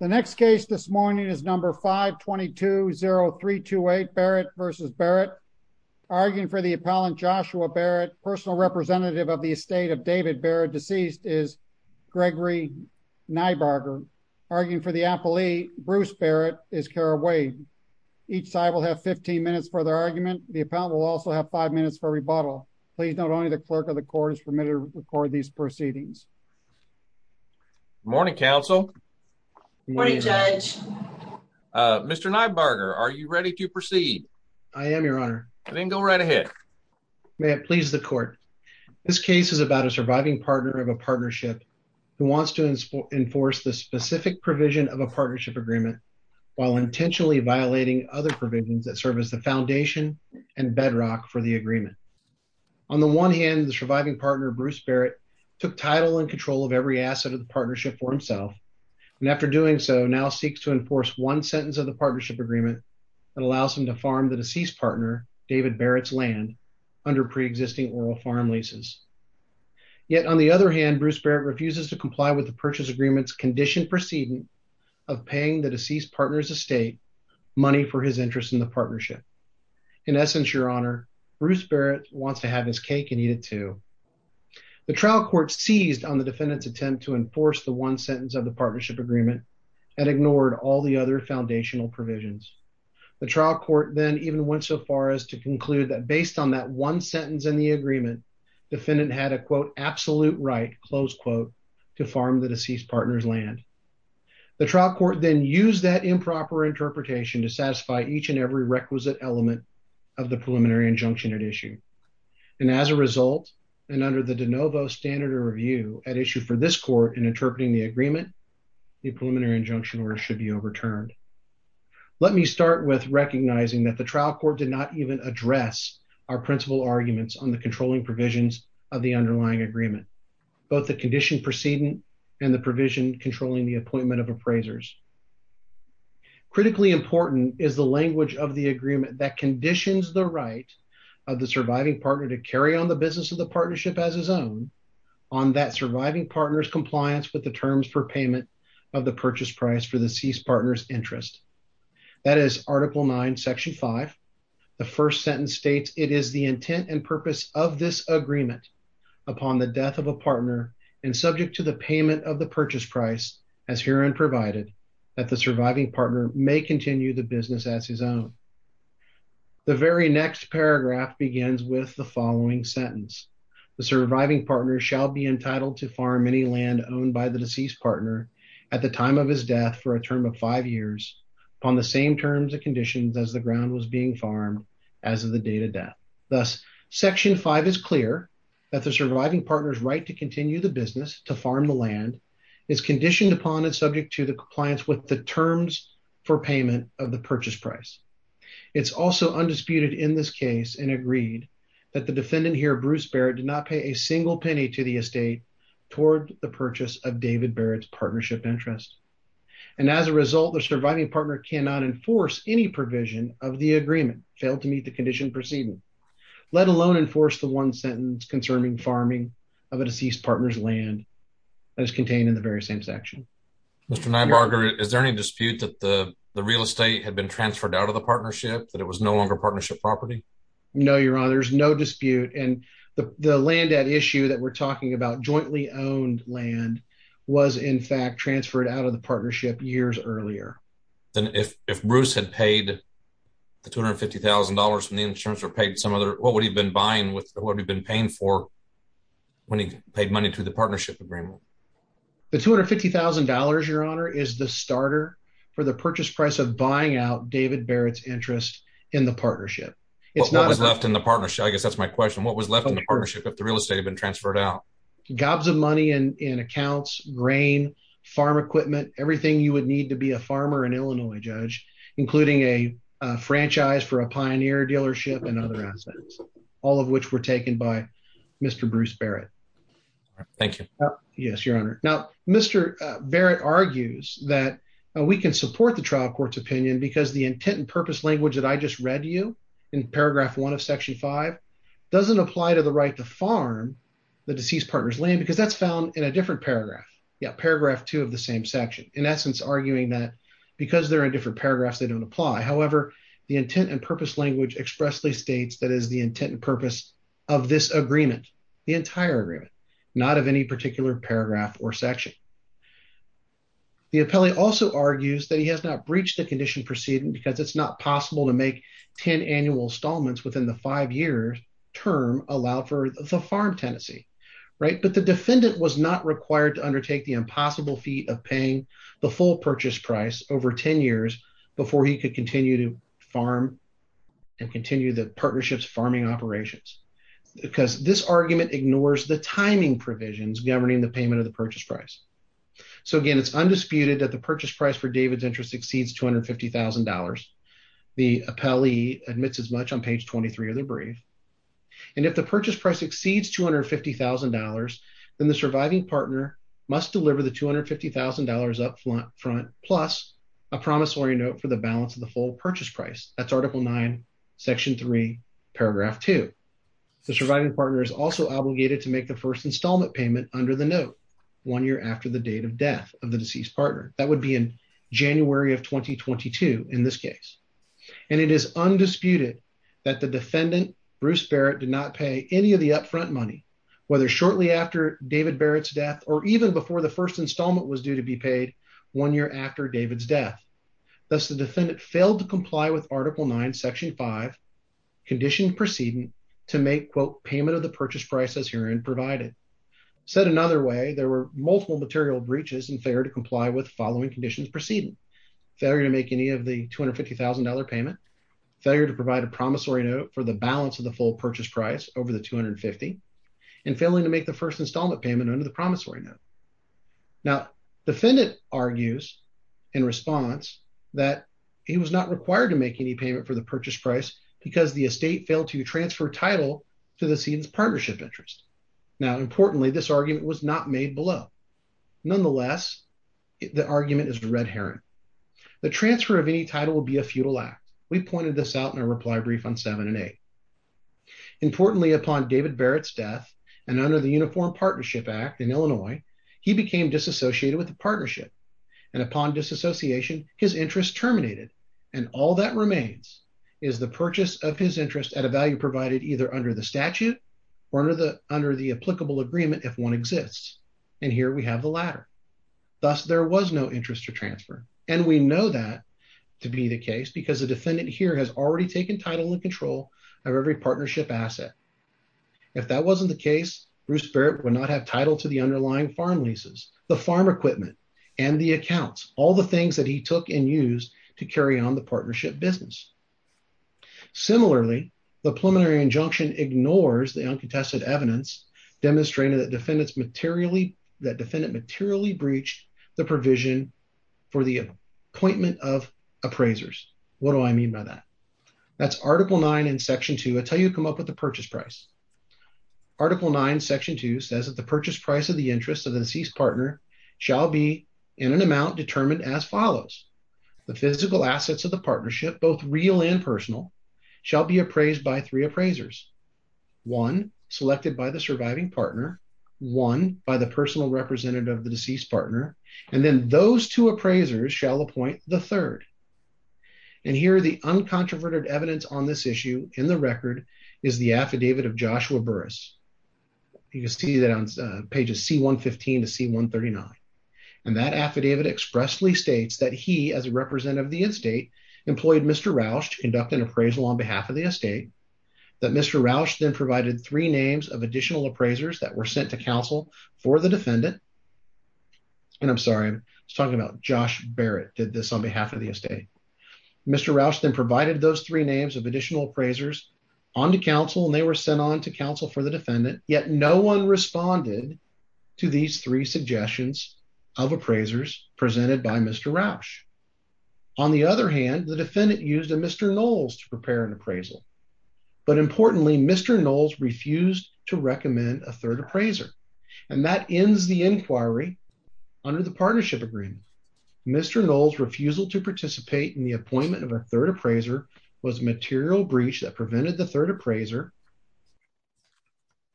The next case this morning is number 522-0328 Barrett v. Barrett. Arguing for the appellant Joshua Barrett, personal representative of the estate of David Barrett, deceased is Gregory Nybarger. Arguing for the appellee Bruce Barrett is Cara Wade. Each side will have 15 minutes for their argument. The appellant will also have five minutes for rebuttal. Please note only the clerk of the court is permitted to record these proceedings. Good morning, counsel. Good morning, judge. Mr. Nybarger, are you ready to proceed? I am, your honor. Then go right ahead. May it please the court. This case is about a surviving partner of a partnership who wants to enforce the specific provision of a partnership agreement while intentionally violating other provisions that serve as the foundation and bedrock for the agreement. On the one hand, the surviving partner Bruce Barrett took title and control of every asset of the partnership for himself and after doing so, now seeks to enforce one sentence of the partnership agreement that allows him to farm the deceased partner David Barrett's land under pre-existing oral farm leases. Yet on the other hand, Bruce Barrett refuses to comply with the purchase agreement's conditioned proceeding of paying the deceased partner's estate money for his interest in the partnership. In essence, your honor, Bruce Barrett wants to have his cake and eat it too. The trial court seized on the defendant's attempt to enforce the one sentence of the partnership agreement and ignored all the other foundational provisions. The trial court then even went so far as to conclude that based on that one sentence in the agreement, defendant had a quote, absolute right, close quote, to farm the deceased partner's land. The trial court then used that improper interpretation to satisfy each and every and under the de novo standard of review at issue for this court in interpreting the agreement, the preliminary injunction order should be overturned. Let me start with recognizing that the trial court did not even address our principal arguments on the controlling provisions of the underlying agreement, both the condition proceeding and the provision controlling the appointment of appraisers. Critically important is the language of the agreement that conditions the right of the surviving partner to carry on the business of the partnership as his own on that surviving partner's compliance with the terms for payment of the purchase price for the deceased partner's interest. That is article 9, section 5. The first sentence states it is the intent and purpose of this agreement upon the death of a partner and subject to the payment of the purchase price as herein provided that the surviving partner may continue the business as his own. The very next paragraph begins with the following sentence, the surviving partner shall be entitled to farm any land owned by the deceased partner at the time of his death for a term of five years upon the same terms and conditions as the ground was being farmed as of the date of death. Thus, section 5 is clear that the surviving partner's right to continue the business to farm the land is conditioned upon and subject to the compliance with the terms for payment of the purchase price. It's also undisputed in this case and agreed that the defendant here, Bruce Barrett, did not pay a single penny to the estate toward the purchase of David Barrett's partnership interest and as a result, the surviving partner cannot enforce any provision of the agreement, fail to meet the condition proceeding, let alone enforce the one sentence concerning farming of a deceased partner's land as contained in the very same section. Mr. Nybarger, is there any had been transferred out of the partnership that it was no longer partnership property? No, your honor, there's no dispute and the land that issue that we're talking about jointly owned land was in fact transferred out of the partnership years earlier. Then if Bruce had paid the $250,000 from the insurance or paid some other what would he been buying with what he'd been paying for when he paid money to the partnership agreement? The $250,000, your honor, is the starter for the purchase price of buying out David Barrett's interest in the partnership. What was left in the partnership? I guess that's my question. What was left in the partnership if the real estate had been transferred out? Gobs of money in accounts, grain, farm equipment, everything you would need to be a farmer in Illinois, Judge, including a franchise for a Pioneer dealership and other assets, all of which were taken by Mr. Bruce Barrett. Thank you. Yes, your honor. Now, Mr. Barrett argues that we can support the trial court's opinion because the intent and purpose language that I just read to you in paragraph one of section five doesn't apply to the right to farm the deceased partner's land because that's found in a different paragraph. Yeah. Paragraph two of the same section, in essence, arguing that because they're in different paragraphs, they don't apply. However, the intent and purpose language expressly states that is the intent and purpose of this agreement, the entire agreement, not of any particular paragraph or section. The appellee also argues that he has not breached the condition proceeding because it's not possible to make 10 annual installments within the five year term allowed for the farm tenancy. Right. But the defendant was not required to undertake the impossible feat of paying the full purchase price over 10 years before he could continue to governing the payment of the purchase price. So, again, it's undisputed that the purchase price for David's interest exceeds $250,000. The appellee admits as much on page 23 of the brief. And if the purchase price exceeds $250,000, then the surviving partner must deliver the $250,000 up front plus a promissory note for the balance of the full purchase price. That's article nine, section three, paragraph two. The surviving partner is also obligated to make the first installment payment under the note one year after the date of death of the deceased partner. That would be in January of 2022 in this case. And it is undisputed that the defendant, Bruce Barrett, did not pay any of the up front money, whether shortly after David Barrett's death or even before the first installment was due to be paid one year after David's death. Thus, the defendant failed to comply with article nine, section five, conditioned proceeding to make, quote, payment of the purchase price as herein provided. Said another way, there were multiple material breaches and failure to comply with following conditions proceeding. Failure to make any of the $250,000 payment, failure to provide a promissory note for the balance of the full purchase price over the $250,000, and failing to make the first installment payment under the required to make any payment for the purchase price because the estate failed to transfer title to the seed's partnership interest. Now, importantly, this argument was not made below. Nonetheless, the argument is red herring. The transfer of any title will be a futile act. We pointed this out in a reply brief on seven and eight. Importantly, upon David Barrett's death and under the Uniform Partnership Act in Illinois, he became disassociated with the partnership. And upon disassociation, his interest terminated. And all that remains is the purchase of his interest at a value provided either under the statute or under the applicable agreement if one exists. And here we have the latter. Thus, there was no interest to transfer. And we know that to be the case because the defendant here has already taken title and control of every partnership asset. If that wasn't the case, Bruce Barrett would not have title to the underlying farm leases, the farm equipment, and the accounts, all the things that he took and used to carry on the partnership business. Similarly, the preliminary injunction ignores the uncontested evidence demonstrating that defendants materially, that defendant materially breached the provision for the appointment of appraisers. What do I mean by that? That's article nine in section two. I'll tell you to come up with the purchase price. Article nine, section two says that the purchase price of the interest of the deceased partner shall be in an amount determined as follows. The physical assets of the partnership, both real and personal, shall be appraised by three appraisers. One selected by the surviving partner, one by the personal representative of the deceased partner, and then those two appraisers shall appoint the third. And here the uncontroverted evidence on this issue in the record is the affidavit of Joshua Burris. You can see that on pages C-115 to C-139. And that affidavit expressly states that he, as a representative of the estate, employed Mr. Roush to conduct an appraisal on behalf of the estate. That Mr. Roush then provided three names of additional appraisers that were sent to counsel for the defendant. And I'm sorry, I was talking about Josh Barrett did this on behalf of the estate. Mr. Roush then provided those three names of additional appraisers onto counsel and they were sent on to counsel for the defendant, yet no one responded to these three suggestions of appraisers presented by Mr. Roush. On the other hand, the defendant used a Mr. Knowles to prepare an appraisal. But importantly, Mr. Knowles refused to recommend a third appraiser. And that ends the inquiry under the partnership agreement. Mr. Knowles' refusal to participate in the appointment of a third appraiser was a material breach that prevented the third appraiser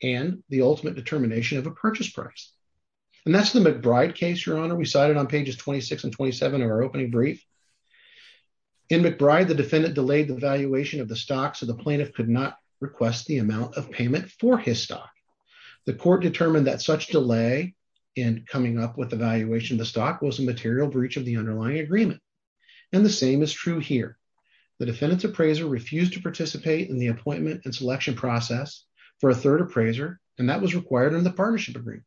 and the ultimate determination of a purchase price. And that's the McBride case, Your Honor. We cited on pages 26 and 27 of our opening brief. In McBride, the defendant delayed the valuation of the stock so the plaintiff could not request the amount of payment for his stock. The court determined that such delay in coming up with the valuation of the stock was a material breach of underlying agreement. And the same is true here. The defendant's appraiser refused to participate in the appointment and selection process for a third appraiser and that was required in the partnership agreement.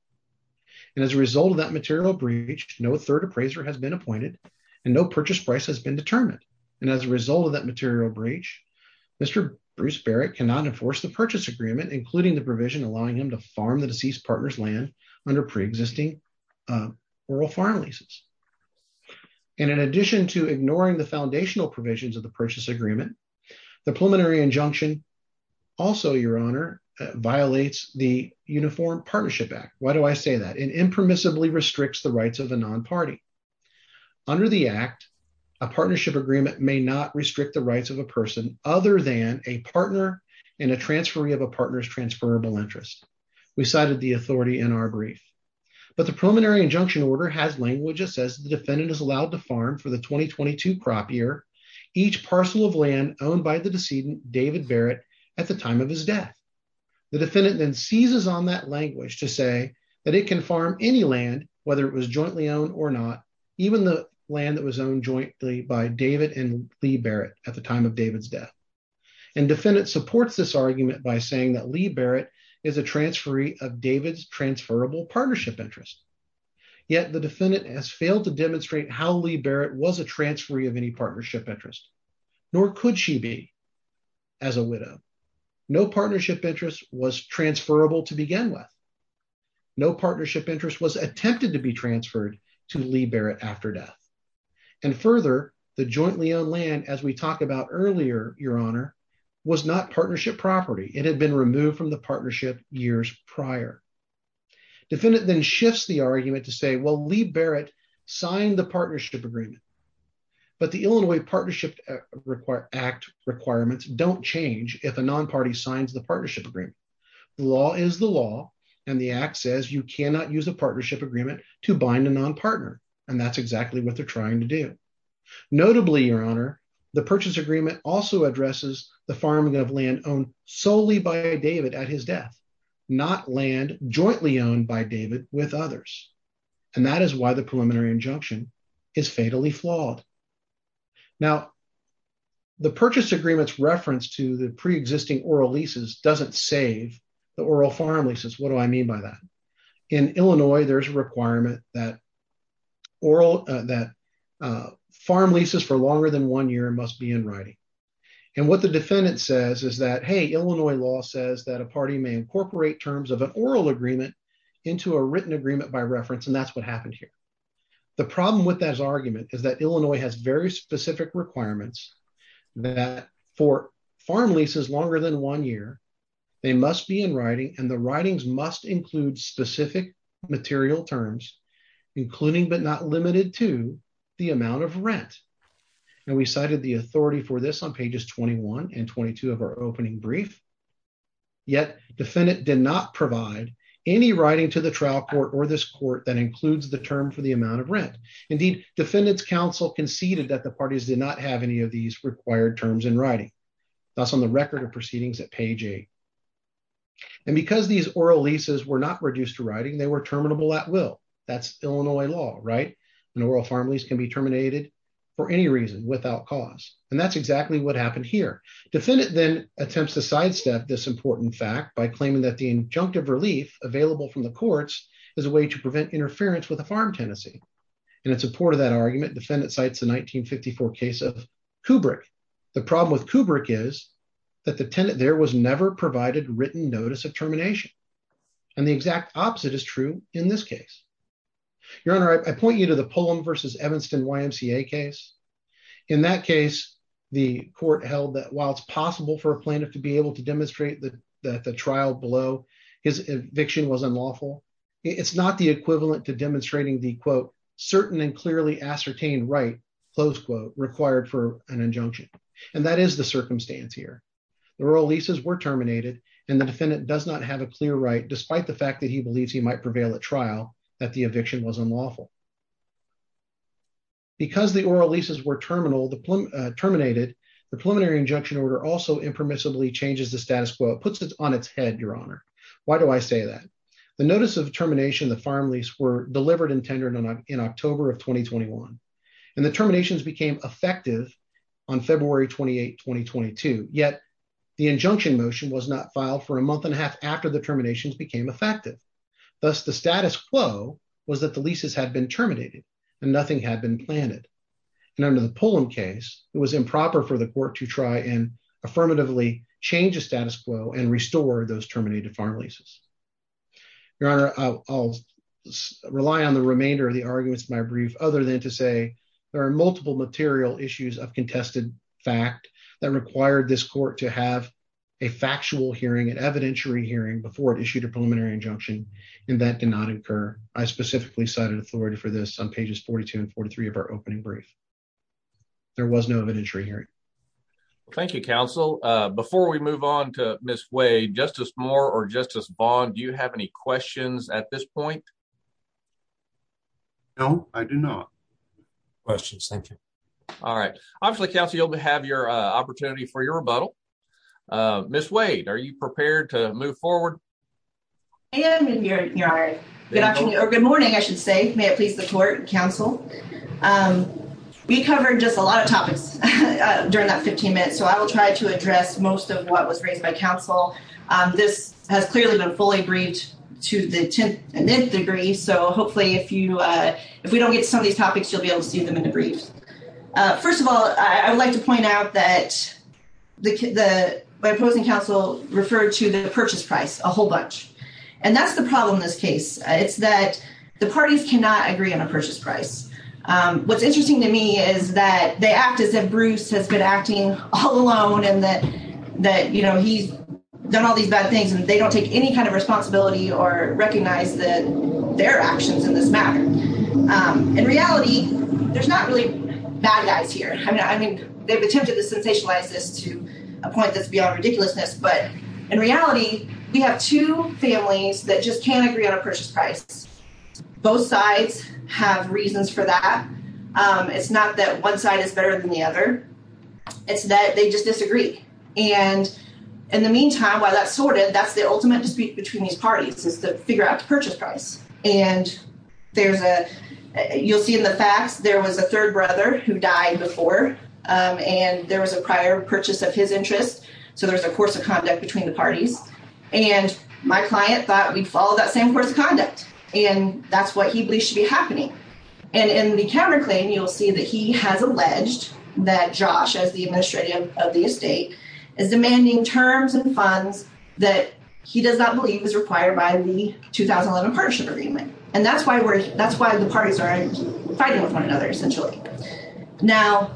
And as a result of that material breach, no third appraiser has been appointed and no purchase price has been determined. And as a result of that material breach, Mr. Bruce Barrett cannot enforce the purchase agreement, including the provision allowing him to farm the deceased partner's land under pre-existing oral farm leases. And in addition to ignoring the foundational provisions of the purchase agreement, the preliminary injunction, also, Your Honor, violates the Uniform Partnership Act. Why do I say that? It impermissibly restricts the rights of a non-party. Under the act, a partnership agreement may not restrict the rights of a person other than a partner in a transferee of a partner's transferable interest. We cited the authority in our brief. But the preliminary injunction order has language that says the defendant is allowed to farm for the 2022 crop year, each parcel of land owned by the decedent, David Barrett, at the time of his death. The defendant then seizes on that language to say that it can farm any land, whether it was jointly owned or not, even the land that was owned jointly by David and Lee Barrett at the time of David's death. And defendant supports this argument by saying that Lee Barrett is a transferee of David's transferable partnership interest. Yet the defendant has failed to demonstrate how Lee Barrett was a transferee of any partnership interest, nor could she be as a widow. No partnership interest was transferable to begin with. No partnership interest was attempted to be transferred to Lee Barrett after death. And further, the jointly owned land, as we talked about earlier, Your Honor, was not partnership property. It had been removed from the partnership years prior. Defendant then shifts the argument to say, well, Lee Barrett signed the partnership agreement. But the Illinois Partnership Act requirements don't change if a non-party signs the partnership agreement. The law is the law, and the act says you cannot use a partnership agreement to bind a non-partner. And that's exactly what they're trying to do. Notably, Your Honor, the purchase agreement also addresses the farming of land owned solely by David at his death, not land jointly owned by David with others. And that is why the preliminary injunction is fatally flawed. Now, the purchase agreement's reference to the pre-existing oral leases doesn't save the oral farm leases. What do I mean by that? In Illinois, there's a requirement that farm leases for longer than one year must be in writing. And what the defendant says is that, hey, Illinois law says that a party may incorporate terms of an oral agreement into a written agreement by reference, and that's what happened here. The problem with that argument is that Illinois has very specific requirements that for farm leases longer than one year, they must be in writing, and the writings must include specific material terms, including but not limited to the amount of rent. And we cited the authority for this on pages 21 and 22 of our opening brief, yet defendant did not provide any writing to the trial court or this court that includes the term for the amount of rent. Indeed, defendant's counsel conceded that the parties did not have any of these required terms in writing. That's on the record of they were terminable at will. That's Illinois law, right? An oral farm lease can be terminated for any reason without cause, and that's exactly what happened here. Defendant then attempts to sidestep this important fact by claiming that the injunctive relief available from the courts is a way to prevent interference with the farm tenancy, and in support of that argument, defendant cites the 1954 case of Kubrick. The problem with Kubrick is that the tenant there was never provided written notice of termination, and the exact opposite is true in this case. Your Honor, I point you to the Pullum v. Evanston YMCA case. In that case, the court held that while it's possible for a plaintiff to be able to demonstrate that the trial below his eviction was unlawful, it's not the equivalent to demonstrating the, quote, certain and clearly ascertained right, close quote, required for an injunction, and that is the circumstance here. The oral leases were terminated, and the defendant does not have a clear right, despite the fact that he believes he might prevail at trial, that the eviction was unlawful. Because the oral leases were terminated, the preliminary injunction order also impermissibly changes the status quo. It puts it on its head, Your Honor. Why do I say that? The notice of termination of the farm lease were delivered and tendered in October of 2021, and the terminations became effective on February 28, 2022, yet the injunction motion was not filed for a month and a half after the terminations became effective. Thus, the status quo was that the leases had been terminated, and nothing had been planted, and under the Pullum case, it was improper for the court to try and affirmatively change the status quo and restore those terminated farm leases. Your Honor, I'll rely on the remainder of the arguments in my brief other than to say there are multiple material issues of contested fact that required this court to have a factual hearing, an evidentiary hearing, before it issued a preliminary injunction, and that did not occur. I specifically cited authority for this on pages 42 and 43 of our opening brief. There was no evidentiary hearing. Thank you, counsel. Before we move on to Ms. Way, Justice Moore or Justice Bond, do you have any questions at this point? No, I do not. Questions. Thank you. All right. Obviously, counsel, you'll have your opportunity for your rebuttal. Ms. Wade, are you prepared to move forward? I am, Your Honor. Good morning, I should say. May it please the court, counsel. We covered just a lot of topics during that 15 minute, so I will try to address most of what was raised by counsel. This has clearly been fully briefed to the tenth and ninth degree, so hopefully if we don't get to some of these topics, you'll be able to see them in the briefs. First of all, I would like to point out that my opposing counsel referred to the purchase price a whole bunch, and that's the problem in this case. It's that the parties cannot agree on a purchase price. What's interesting to me is that the act is that all alone and that, you know, he's done all these bad things and they don't take any kind of responsibility or recognize that their actions in this matter. In reality, there's not really bad guys here. I mean, they've attempted to sensationalize this to a point that's beyond ridiculousness, but in reality, we have two families that just can't agree on a purchase price. Both sides have reasons for that. It's not that one side is better than the other. It's that they just disagree. And in the meantime, while that's sorted, that's the ultimate dispute between these parties is to figure out the purchase price. And you'll see in the facts, there was a third brother who died before, and there was a prior purchase of his interest, so there's a course of conduct between the parties. And my client thought we'd follow that same course of conduct, and that's what he believes should be happening. And in the counter that Josh as the administrator of the estate is demanding terms and funds that he does not believe is required by the 2011 partnership agreement. And that's why we're, that's why the parties are fighting with one another, essentially. Now,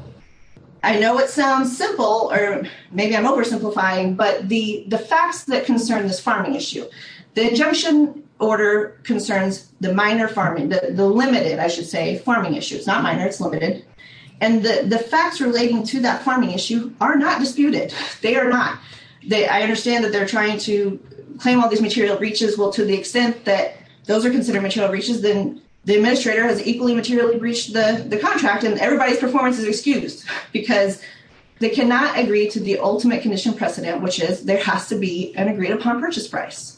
I know it sounds simple, or maybe I'm oversimplifying, but the facts that concern this farming issue, the injunction order concerns the minor farming, the limited, I should say, farming issues, not minor, it's limited. And the facts relating to that farming issue are not disputed. They are not. I understand that they're trying to claim all these material breaches. Well, to the extent that those are considered material breaches, then the administrator has equally materially breached the contract, and everybody's performance is excused because they cannot agree to the ultimate conditional precedent, which is there has to be an agreed upon purchase price.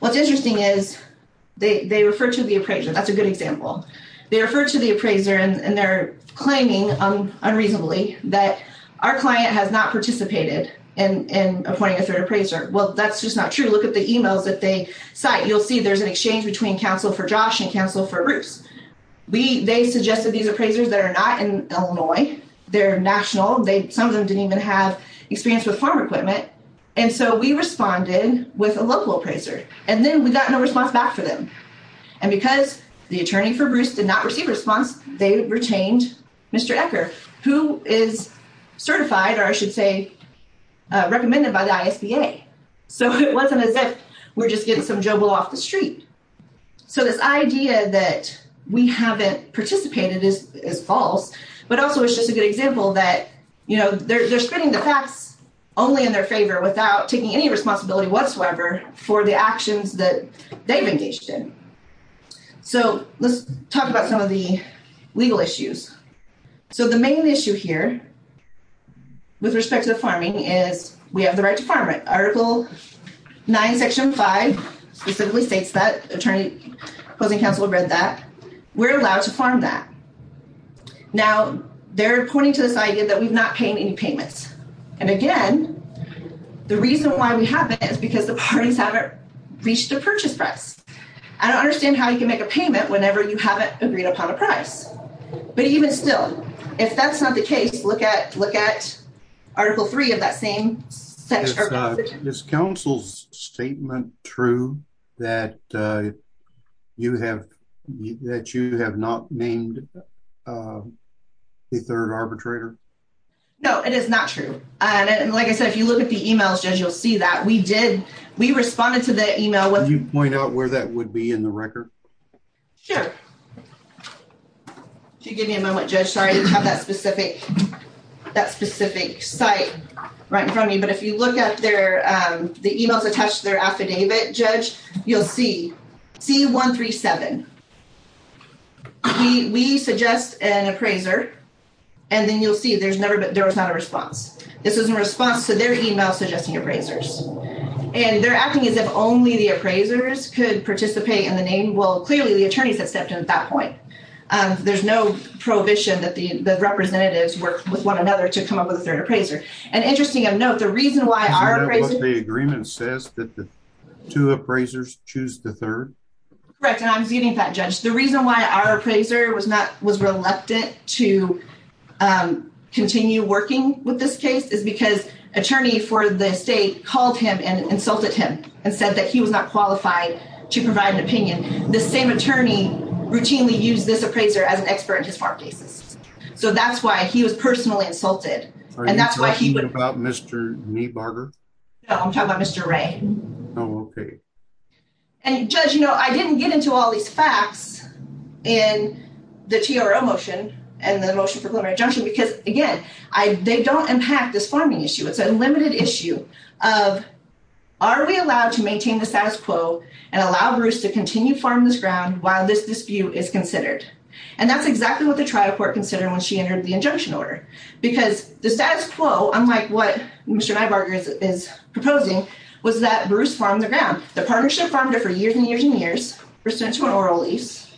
What's interesting is they refer to the appraiser. That's a good example. They refer to the appraiser and they're claiming unreasonably that our client has not participated in appointing a third appraiser. Well, that's just not true. Look at the emails that they cite. You'll see there's an exchange between counsel for Josh and counsel for Bruce. They suggested these appraisers that are not in Illinois. They're national. Some of them didn't even have experience with farm equipment. And so we responded with a local appraiser. And then we got no response back for them. And because the attorney for Bruce did not receive a response, they retained Mr. Ecker, who is certified, or I should say, recommended by the ISBA. So it wasn't as if we're just getting some jumble off the street. So this idea that we haven't participated is false, but also it's just a good example that you know, they're spreading the facts only in their favor without taking any responsibility whatsoever for the actions that they've engaged in. So let's talk about some of the legal issues. So the main issue here with respect to the farming is we have the right to farm it. Article 9, section 5 specifically states that. Attorney opposing counsel read that. We're allowed to farm that. Now they're pointing to this idea that we've not paid any payments. And again, the reason why we haven't is because the parties haven't reached the purchase press. I don't understand how you can make a payment whenever you haven't agreed upon a price. But even still, if that's not the case, look at look at Article 3 of that same section. Is counsel's statement true that you have that you have not named the third arbitrator? No, it is not true. And like I said, if you look at the emails, Judge, you'll see that we did. We responded to the email. Would you point out where that would be in the record? Sure. Give me a moment, Judge. Sorry, I didn't have that specific that specific site right in front of me. But if you look at their the emails attached to their affidavit, Judge, you'll see C-137. We suggest an appraiser. And then you'll see there's never been there was not a response. This is a response to their email suggesting appraisers. And they're acting as if only the appraisers could participate in the name. Well, clearly, the attorneys have stepped in at that point. There's no prohibition that the representatives work with one another to come up with a third appraiser. And interesting of note, the reason why the agreement says that the two appraisers choose the third. Correct. And I'm getting that, Judge. The reason why our appraiser was not was reluctant to continue working with this case is because attorney for the state called him and insulted him and said that he was not qualified to provide an opinion. The same attorney routinely use this appraiser as an expert in his farm cases. So that's why he was personally insulted. Are you talking about Mr. Niebarger? No, I'm talking about Mr. Ray. Oh, okay. And Judge, you know, I didn't get into all these facts in the TRO motion and the motion for preliminary injunction because again, they don't impact this farming issue. It's a limited issue of are we allowed to maintain the status quo and allow Bruce to continue farm this ground while this dispute is considered. And that's exactly what the trial court considered when she entered the injunction order. Because the status quo, unlike what Mr. Niebarger is proposing, was that Bruce farmed the ground. The partnership farmed it for years and years and years, was sent to an oral lease.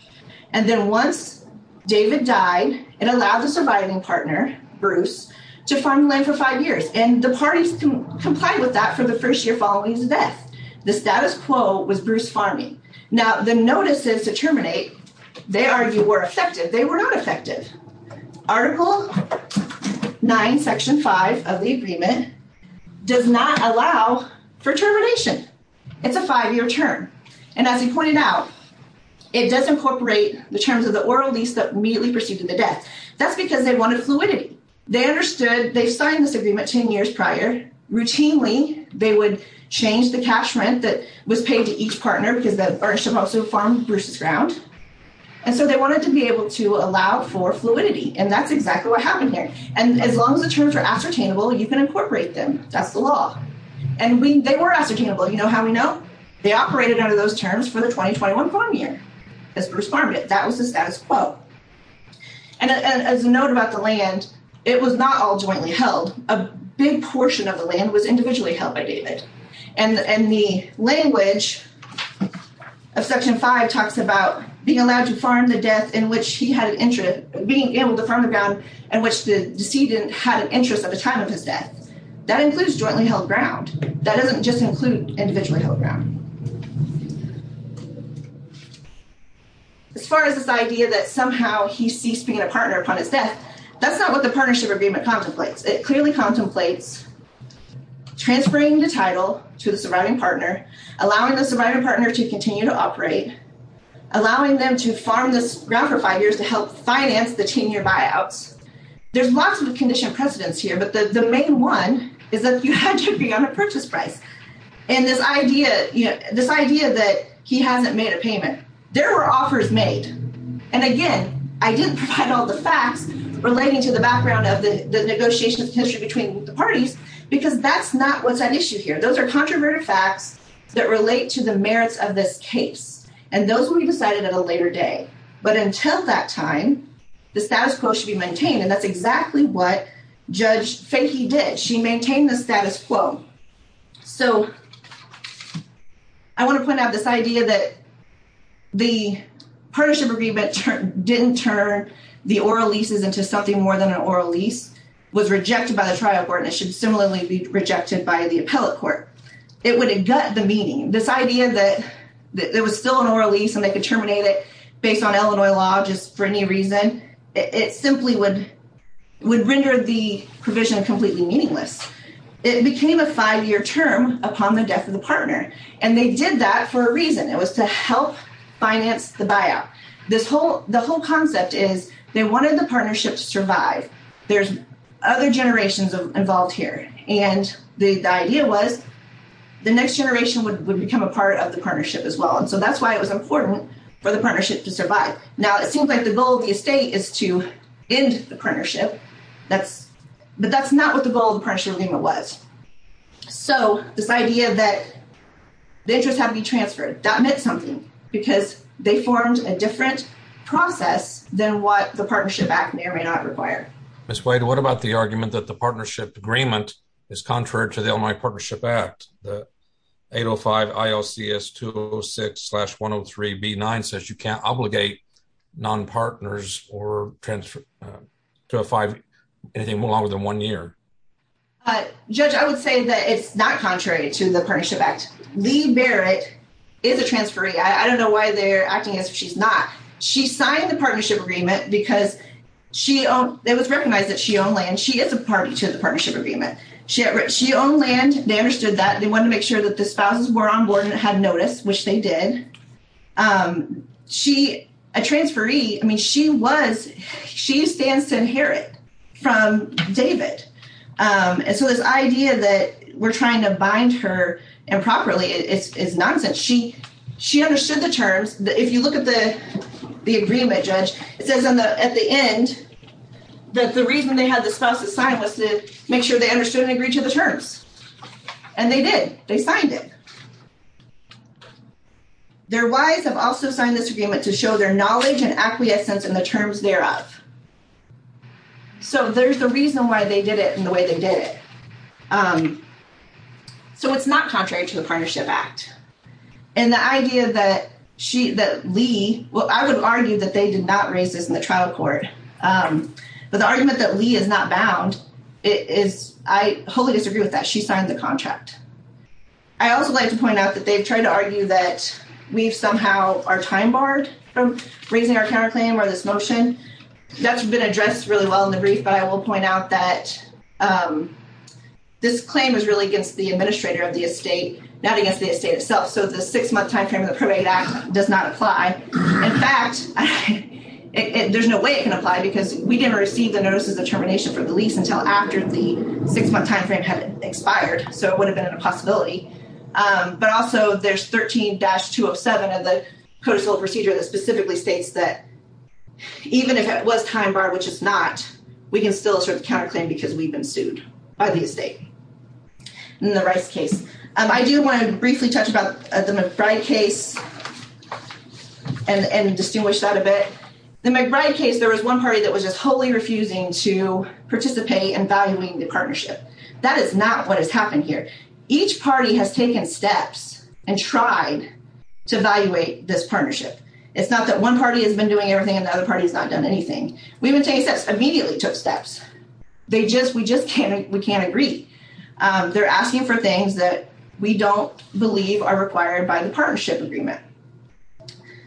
And then once David died, it allowed the surviving partner, Bruce, to farm the land for five years. And the parties can comply with that for the first year following the death. The status quo was Bruce farming. Now the notices to terminate, they argued, were effective. They were not effective. Article 9, Section 5 of the agreement does not allow for termination. It's a five-year term. And as he pointed out, it does incorporate the terms of the oral lease that immediately preceded the death. That's because they wanted fluidity. They understood they signed this agreement 10 years prior. Routinely, they would change the cash rent that was paid to each partner because the partnership also farmed Bruce's ground. And so they wanted to be able to allow for fluidity. And that's exactly what happened here. And as long as the terms are ascertainable, you can incorporate them. That's the law. And they were ascertainable. You know how we know? They operated under those terms for the 2021 farm year as Bruce farmed it. That was the A big portion of the land was individually held by David. And the language of Section 5 talks about being allowed to farm the death in which he had an interest, being able to farm the ground in which the decedent had an interest at the time of his death. That includes jointly held ground. That doesn't just include individually held ground. As far as this idea that somehow he ceased being a partner upon his death, that's not what the partnership agreement contemplates. It clearly contemplates transferring the title to the surviving partner, allowing the surviving partner to continue to operate, allowing them to farm this ground for five years to help finance the 10-year buyouts. There's lots of conditioned precedents here. But the main one is that you had to agree on a purchase price. And this idea that he hasn't made a payment, there were offers made. And again, I didn't provide all the facts relating to the background of the negotiation of history between the parties, because that's not what's at issue here. Those are controverted facts that relate to the merits of this case. And those will be decided at a later day. But until that time, the status quo should be maintained. And that's exactly what Judge Fahey did. She maintained the status quo. So I want to point out this idea that the partnership agreement didn't turn the oral leases into something more than an oral lease, was rejected by the trial court, and it should similarly be rejected by the appellate court. It would gut the meaning. This idea that there was still an oral lease and they could terminate it based on Illinois law, just for any reason, it simply would render the provision completely meaningless. It became a five-year term upon the death of the partner. And they did that for a reason. It was to help finance the buyout. The whole concept is they wanted the partnership to survive. There's other generations involved here. And the idea was the next generation would become a part of the partnership as well. And so that's why it was important for the partnership to survive. Now, it seems like the goal of the estate is to end the partnership. But that's not what the goal of the partnership agreement was. So this idea that the interest had to be transferred, that meant something because they formed a different process than what the partnership act may or may not require. Ms. Wade, what about the argument that the partnership agreement is contrary to the Illinois Partnership Act? The 805 IOCS 206-103-B9 says you can't obligate nonpartners or transfer to a five-year, anything longer than one year. Judge, I would say that it's not contrary to the partnership act. Lee Barrett is a transferee. I don't know why they're acting as if she's not. She signed the partnership agreement because it was recognized that she owned land. She is a party to the partnership agreement. She owned land. They understood that. They wanted to make sure that the spouses were on board and had notice, which they did. A transferee, I mean, she was, she stands to inherit from David. And so this idea that we're trying to bind her improperly is nonsense. She understood the terms. If you look at the agreement, Judge, it says at the end that the reason they had the spouses sign was to make sure they understood and agreed to the terms. And they did. They signed it. Their wives have also signed this agreement to show their knowledge and acquiescence in the terms thereof. So there's the reason why they did it in the way they did it. So it's not contrary to the partnership act. And the idea that she, that Lee, well, I would argue that they did not raise this in the trial court. But the argument that Lee is not bound is, I wholly disagree with that. She signed the contract. I also like to point out that they've tried to argue that we've somehow are time barred from raising our counterclaim or this motion. That's been addressed really well in the brief, but I will point out that this claim was really against the administrator of the estate, not against the estate itself. So the six month timeframe of the probate act does not apply. In fact, there's no way it can apply because we didn't receive the notices of termination for the lease until after the six month timeframe had expired. So it would have been a possibility. But also there's 13-207 of the codicil procedure that specifically states that even if it was time barred, which it's not, we can still assert the counterclaim because we've been sued by the estate in the Rice case. I do want to briefly touch about the McBride case. And distinguish that a bit. The McBride case, there was one party that was just wholly refusing to participate in valuing the partnership. That is not what has happened here. Each party has taken steps and tried to evaluate this partnership. It's not that one party has been doing everything and the other party has not done anything. We've been taking steps, immediately took steps. We just can't agree. They're asking for things that we don't believe are required by the partnership agreement.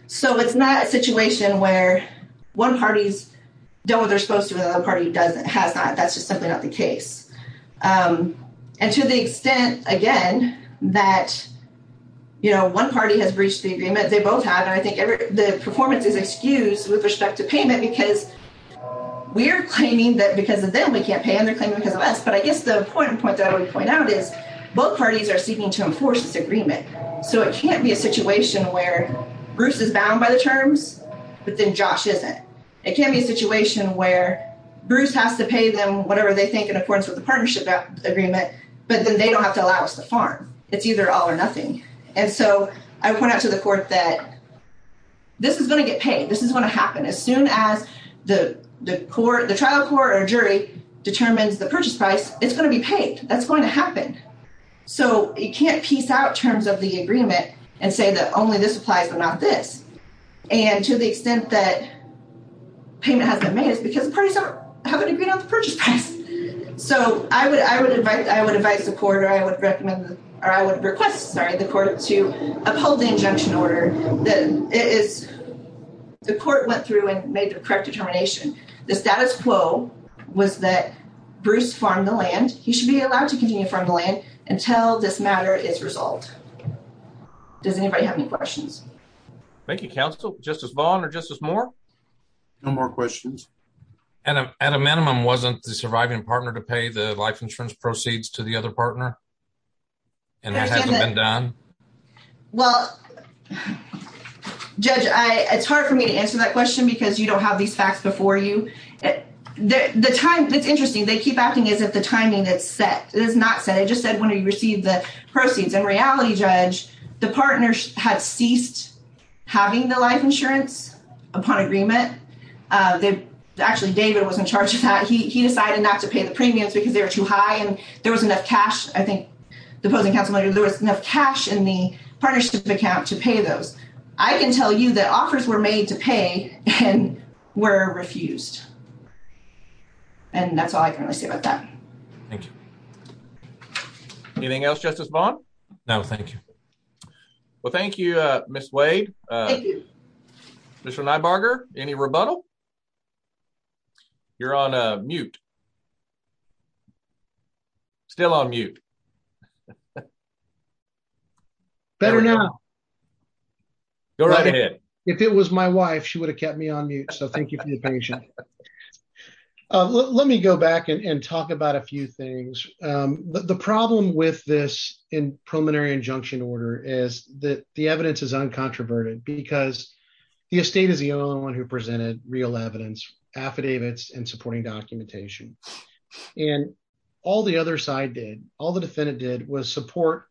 So it's not a situation where one party's done what they're supposed to and the other party has not. That's just simply not the case. And to the extent, again, that one party has breached the agreement, they both have. And I think the performance is excused with respect to payment because we're claiming that because of them we can't pay and they're claiming because of us. But I guess the important point that I So it can't be a situation where Bruce is bound by the terms, but then Josh isn't. It can't be a situation where Bruce has to pay them whatever they think in accordance with the partnership agreement, but then they don't have to allow us to farm. It's either all or nothing. And so I point out to the court that this is going to get paid. This is going to happen. As soon as the trial court or jury determines the purchase price, it's going to be paid. That's going to and say that only this applies but not this. And to the extent that payment hasn't been made is because the parties haven't agreed on the purchase price. So I would advise the court or I would request the court to uphold the injunction order. The court went through and made the correct determination. The status quo was that Bruce farmed the land. He should be allowed to Does anybody have any questions? Thank you, counsel, Justice Vaughn or Justice Moore. No more questions. And at a minimum, wasn't the surviving partner to pay the life insurance proceeds to the other partner? And it hasn't been done? Well, Judge, I it's hard for me to answer that question, because you don't have these facts before you. The time that's interesting, they keep acting as if the timing that's set is not set. It just said proceeds and reality judge, the partners had ceased having the life insurance upon agreement. Actually, David was in charge of that. He decided not to pay the premiums because they were too high and there was enough cash. I think the opposing counsel there was enough cash in the partnership account to pay those. I can tell you that offers were made to pay and were refused. And that's all I can really say about that. Thank you. Anything else, Justice Vaughn? No, thank you. Well, thank you, Miss Wade. Mr. Nybarger, any rebuttal? You're on mute. Still on mute. Better now. Go right ahead. If it was my wife, she would have kept me on mute. So thank you for your patience. Let me go back and talk about a few things. The problem with this in preliminary injunction order is that the evidence is uncontroverted because the estate is the only one who presented real evidence, affidavits and supporting documentation. And all the other side did, all the defendant did was support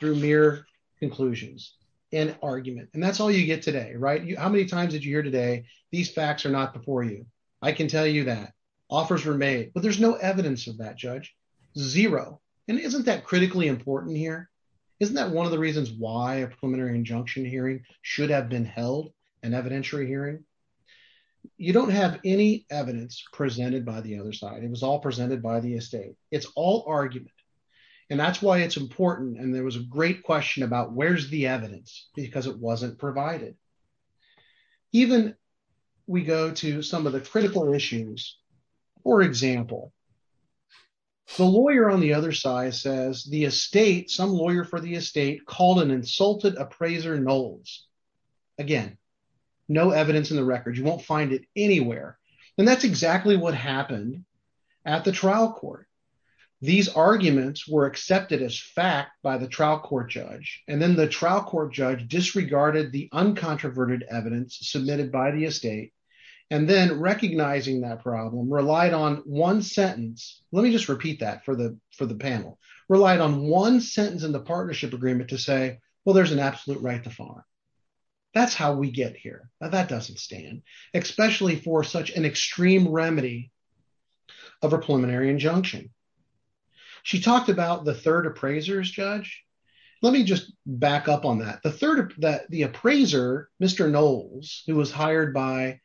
through mere conclusions and argument. And that's all you get today, right? How many times did you hear today? These facts are not before you. I can tell you that offers were made, but there's no evidence of that, Judge. Zero. And isn't that critically important here? Isn't that one of the reasons why a preliminary injunction hearing should have been held, an evidentiary hearing? You don't have any evidence presented by the other side. It was all presented by the estate. It's all argument. And that's why it's important. And there was a great question about where's the evidence? Because it wasn't provided. Even we go to some of the critical issues. For example, the lawyer on the other side says the estate, some lawyer for the estate called an insulted appraiser knolls. Again, no evidence in the record. You won't find it anywhere. And that's exactly what happened at the trial court. These arguments were accepted as fact by the trial judge. And then the trial court judge disregarded the uncontroverted evidence submitted by the estate. And then recognizing that problem relied on one sentence. Let me just repeat that for the panel relied on one sentence in the partnership agreement to say, well, there's an absolute right to fine. That's how we get here. That doesn't stand, especially for such an extreme remedy of a preliminary injunction. She talked about the third appraiser's judge. Let me just back up on that. The third that the appraiser, Mr. Knowles, who was hired by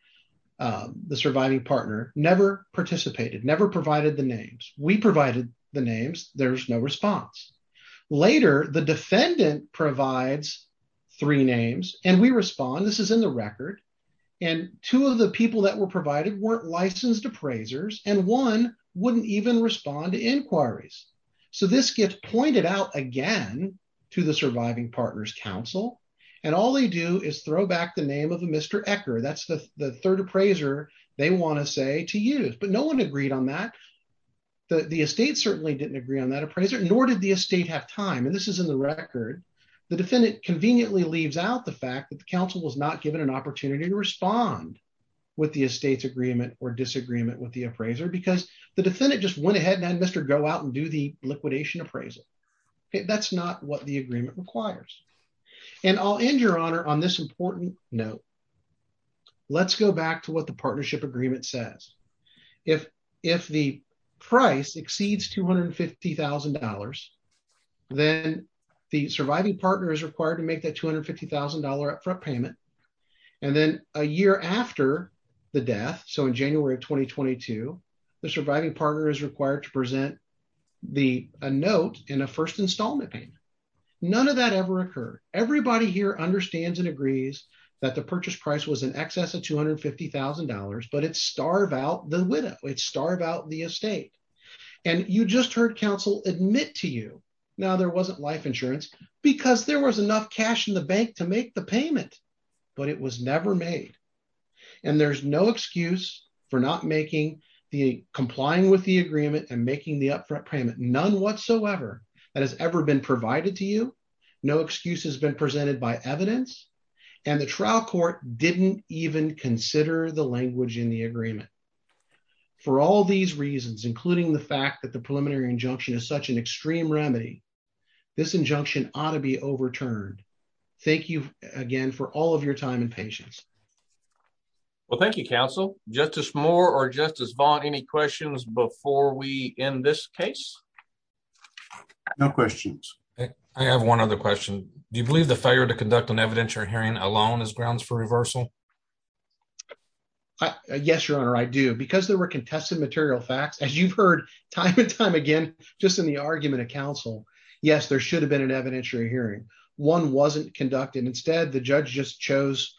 the surviving partner, never participated, never provided the names. We provided the names. There's no response. Later, the defendant provides three names and we respond. This is in the record. And two of the people that were provided weren't licensed appraisers. And one wouldn't even respond to inquiries. So this gets pointed out again to the surviving partner's counsel. And all they do is throw back the name of a Mr. Ecker. That's the third appraiser they want to say to use. But no one agreed on that. The estate certainly didn't agree on that appraiser, nor did the estate have time. And this is in the record. The defendant conveniently leaves out the fact that the respond with the estate's agreement or disagreement with the appraiser because the defendant just went ahead and had Mr. Go out and do the liquidation appraisal. That's not what the agreement requires. And I'll end your honor on this important note. Let's go back to what the partnership agreement says. If the price exceeds $250,000, then the surviving partner is required to make that $250,000 upfront payment. And then a year after the death, so in January of 2022, the surviving partner is required to present the note in a first installment payment. None of that ever occurred. Everybody here understands and agrees that the purchase price was in excess of $250,000, but it's starve out the widow, it's starve out the estate. And you just heard counsel admit to you. Now there wasn't life insurance because there was enough cash in the bank to make the payment, but it was never made. And there's no excuse for not making the complying with the agreement and making the upfront payment. None whatsoever that has ever been provided to you. No excuse has been presented by evidence. And the trial court didn't even consider the language in the agreement. For all these reasons, including the fact that the preliminary injunction is such an extreme remedy, this injunction ought to be overturned. Thank you again for all of your time and patience. Well, thank you, counsel. Justice Moore or Justice Vaughn, any questions before we end this case? No questions. I have one other question. Do you believe the failure to conduct an evidentiary hearing alone is grounds for reversal? Yes, Your Honor, I do. Because there were contested material facts, as you've heard time and time again, just in the argument of counsel. Yes, there should have been an evidentiary hearing. One wasn't conducted. Instead, the judge just chose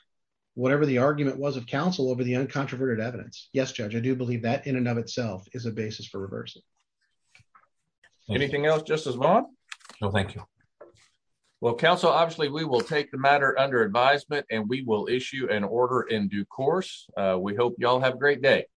whatever the argument was of counsel over the uncontroverted evidence. Yes, Judge, I do believe that in and of itself is a basis for reversal. Anything else, Justice Vaughn? No, thank you. Well, counsel, obviously we will take matter under advisement, and we will issue an order in due course. We hope you all have a great day.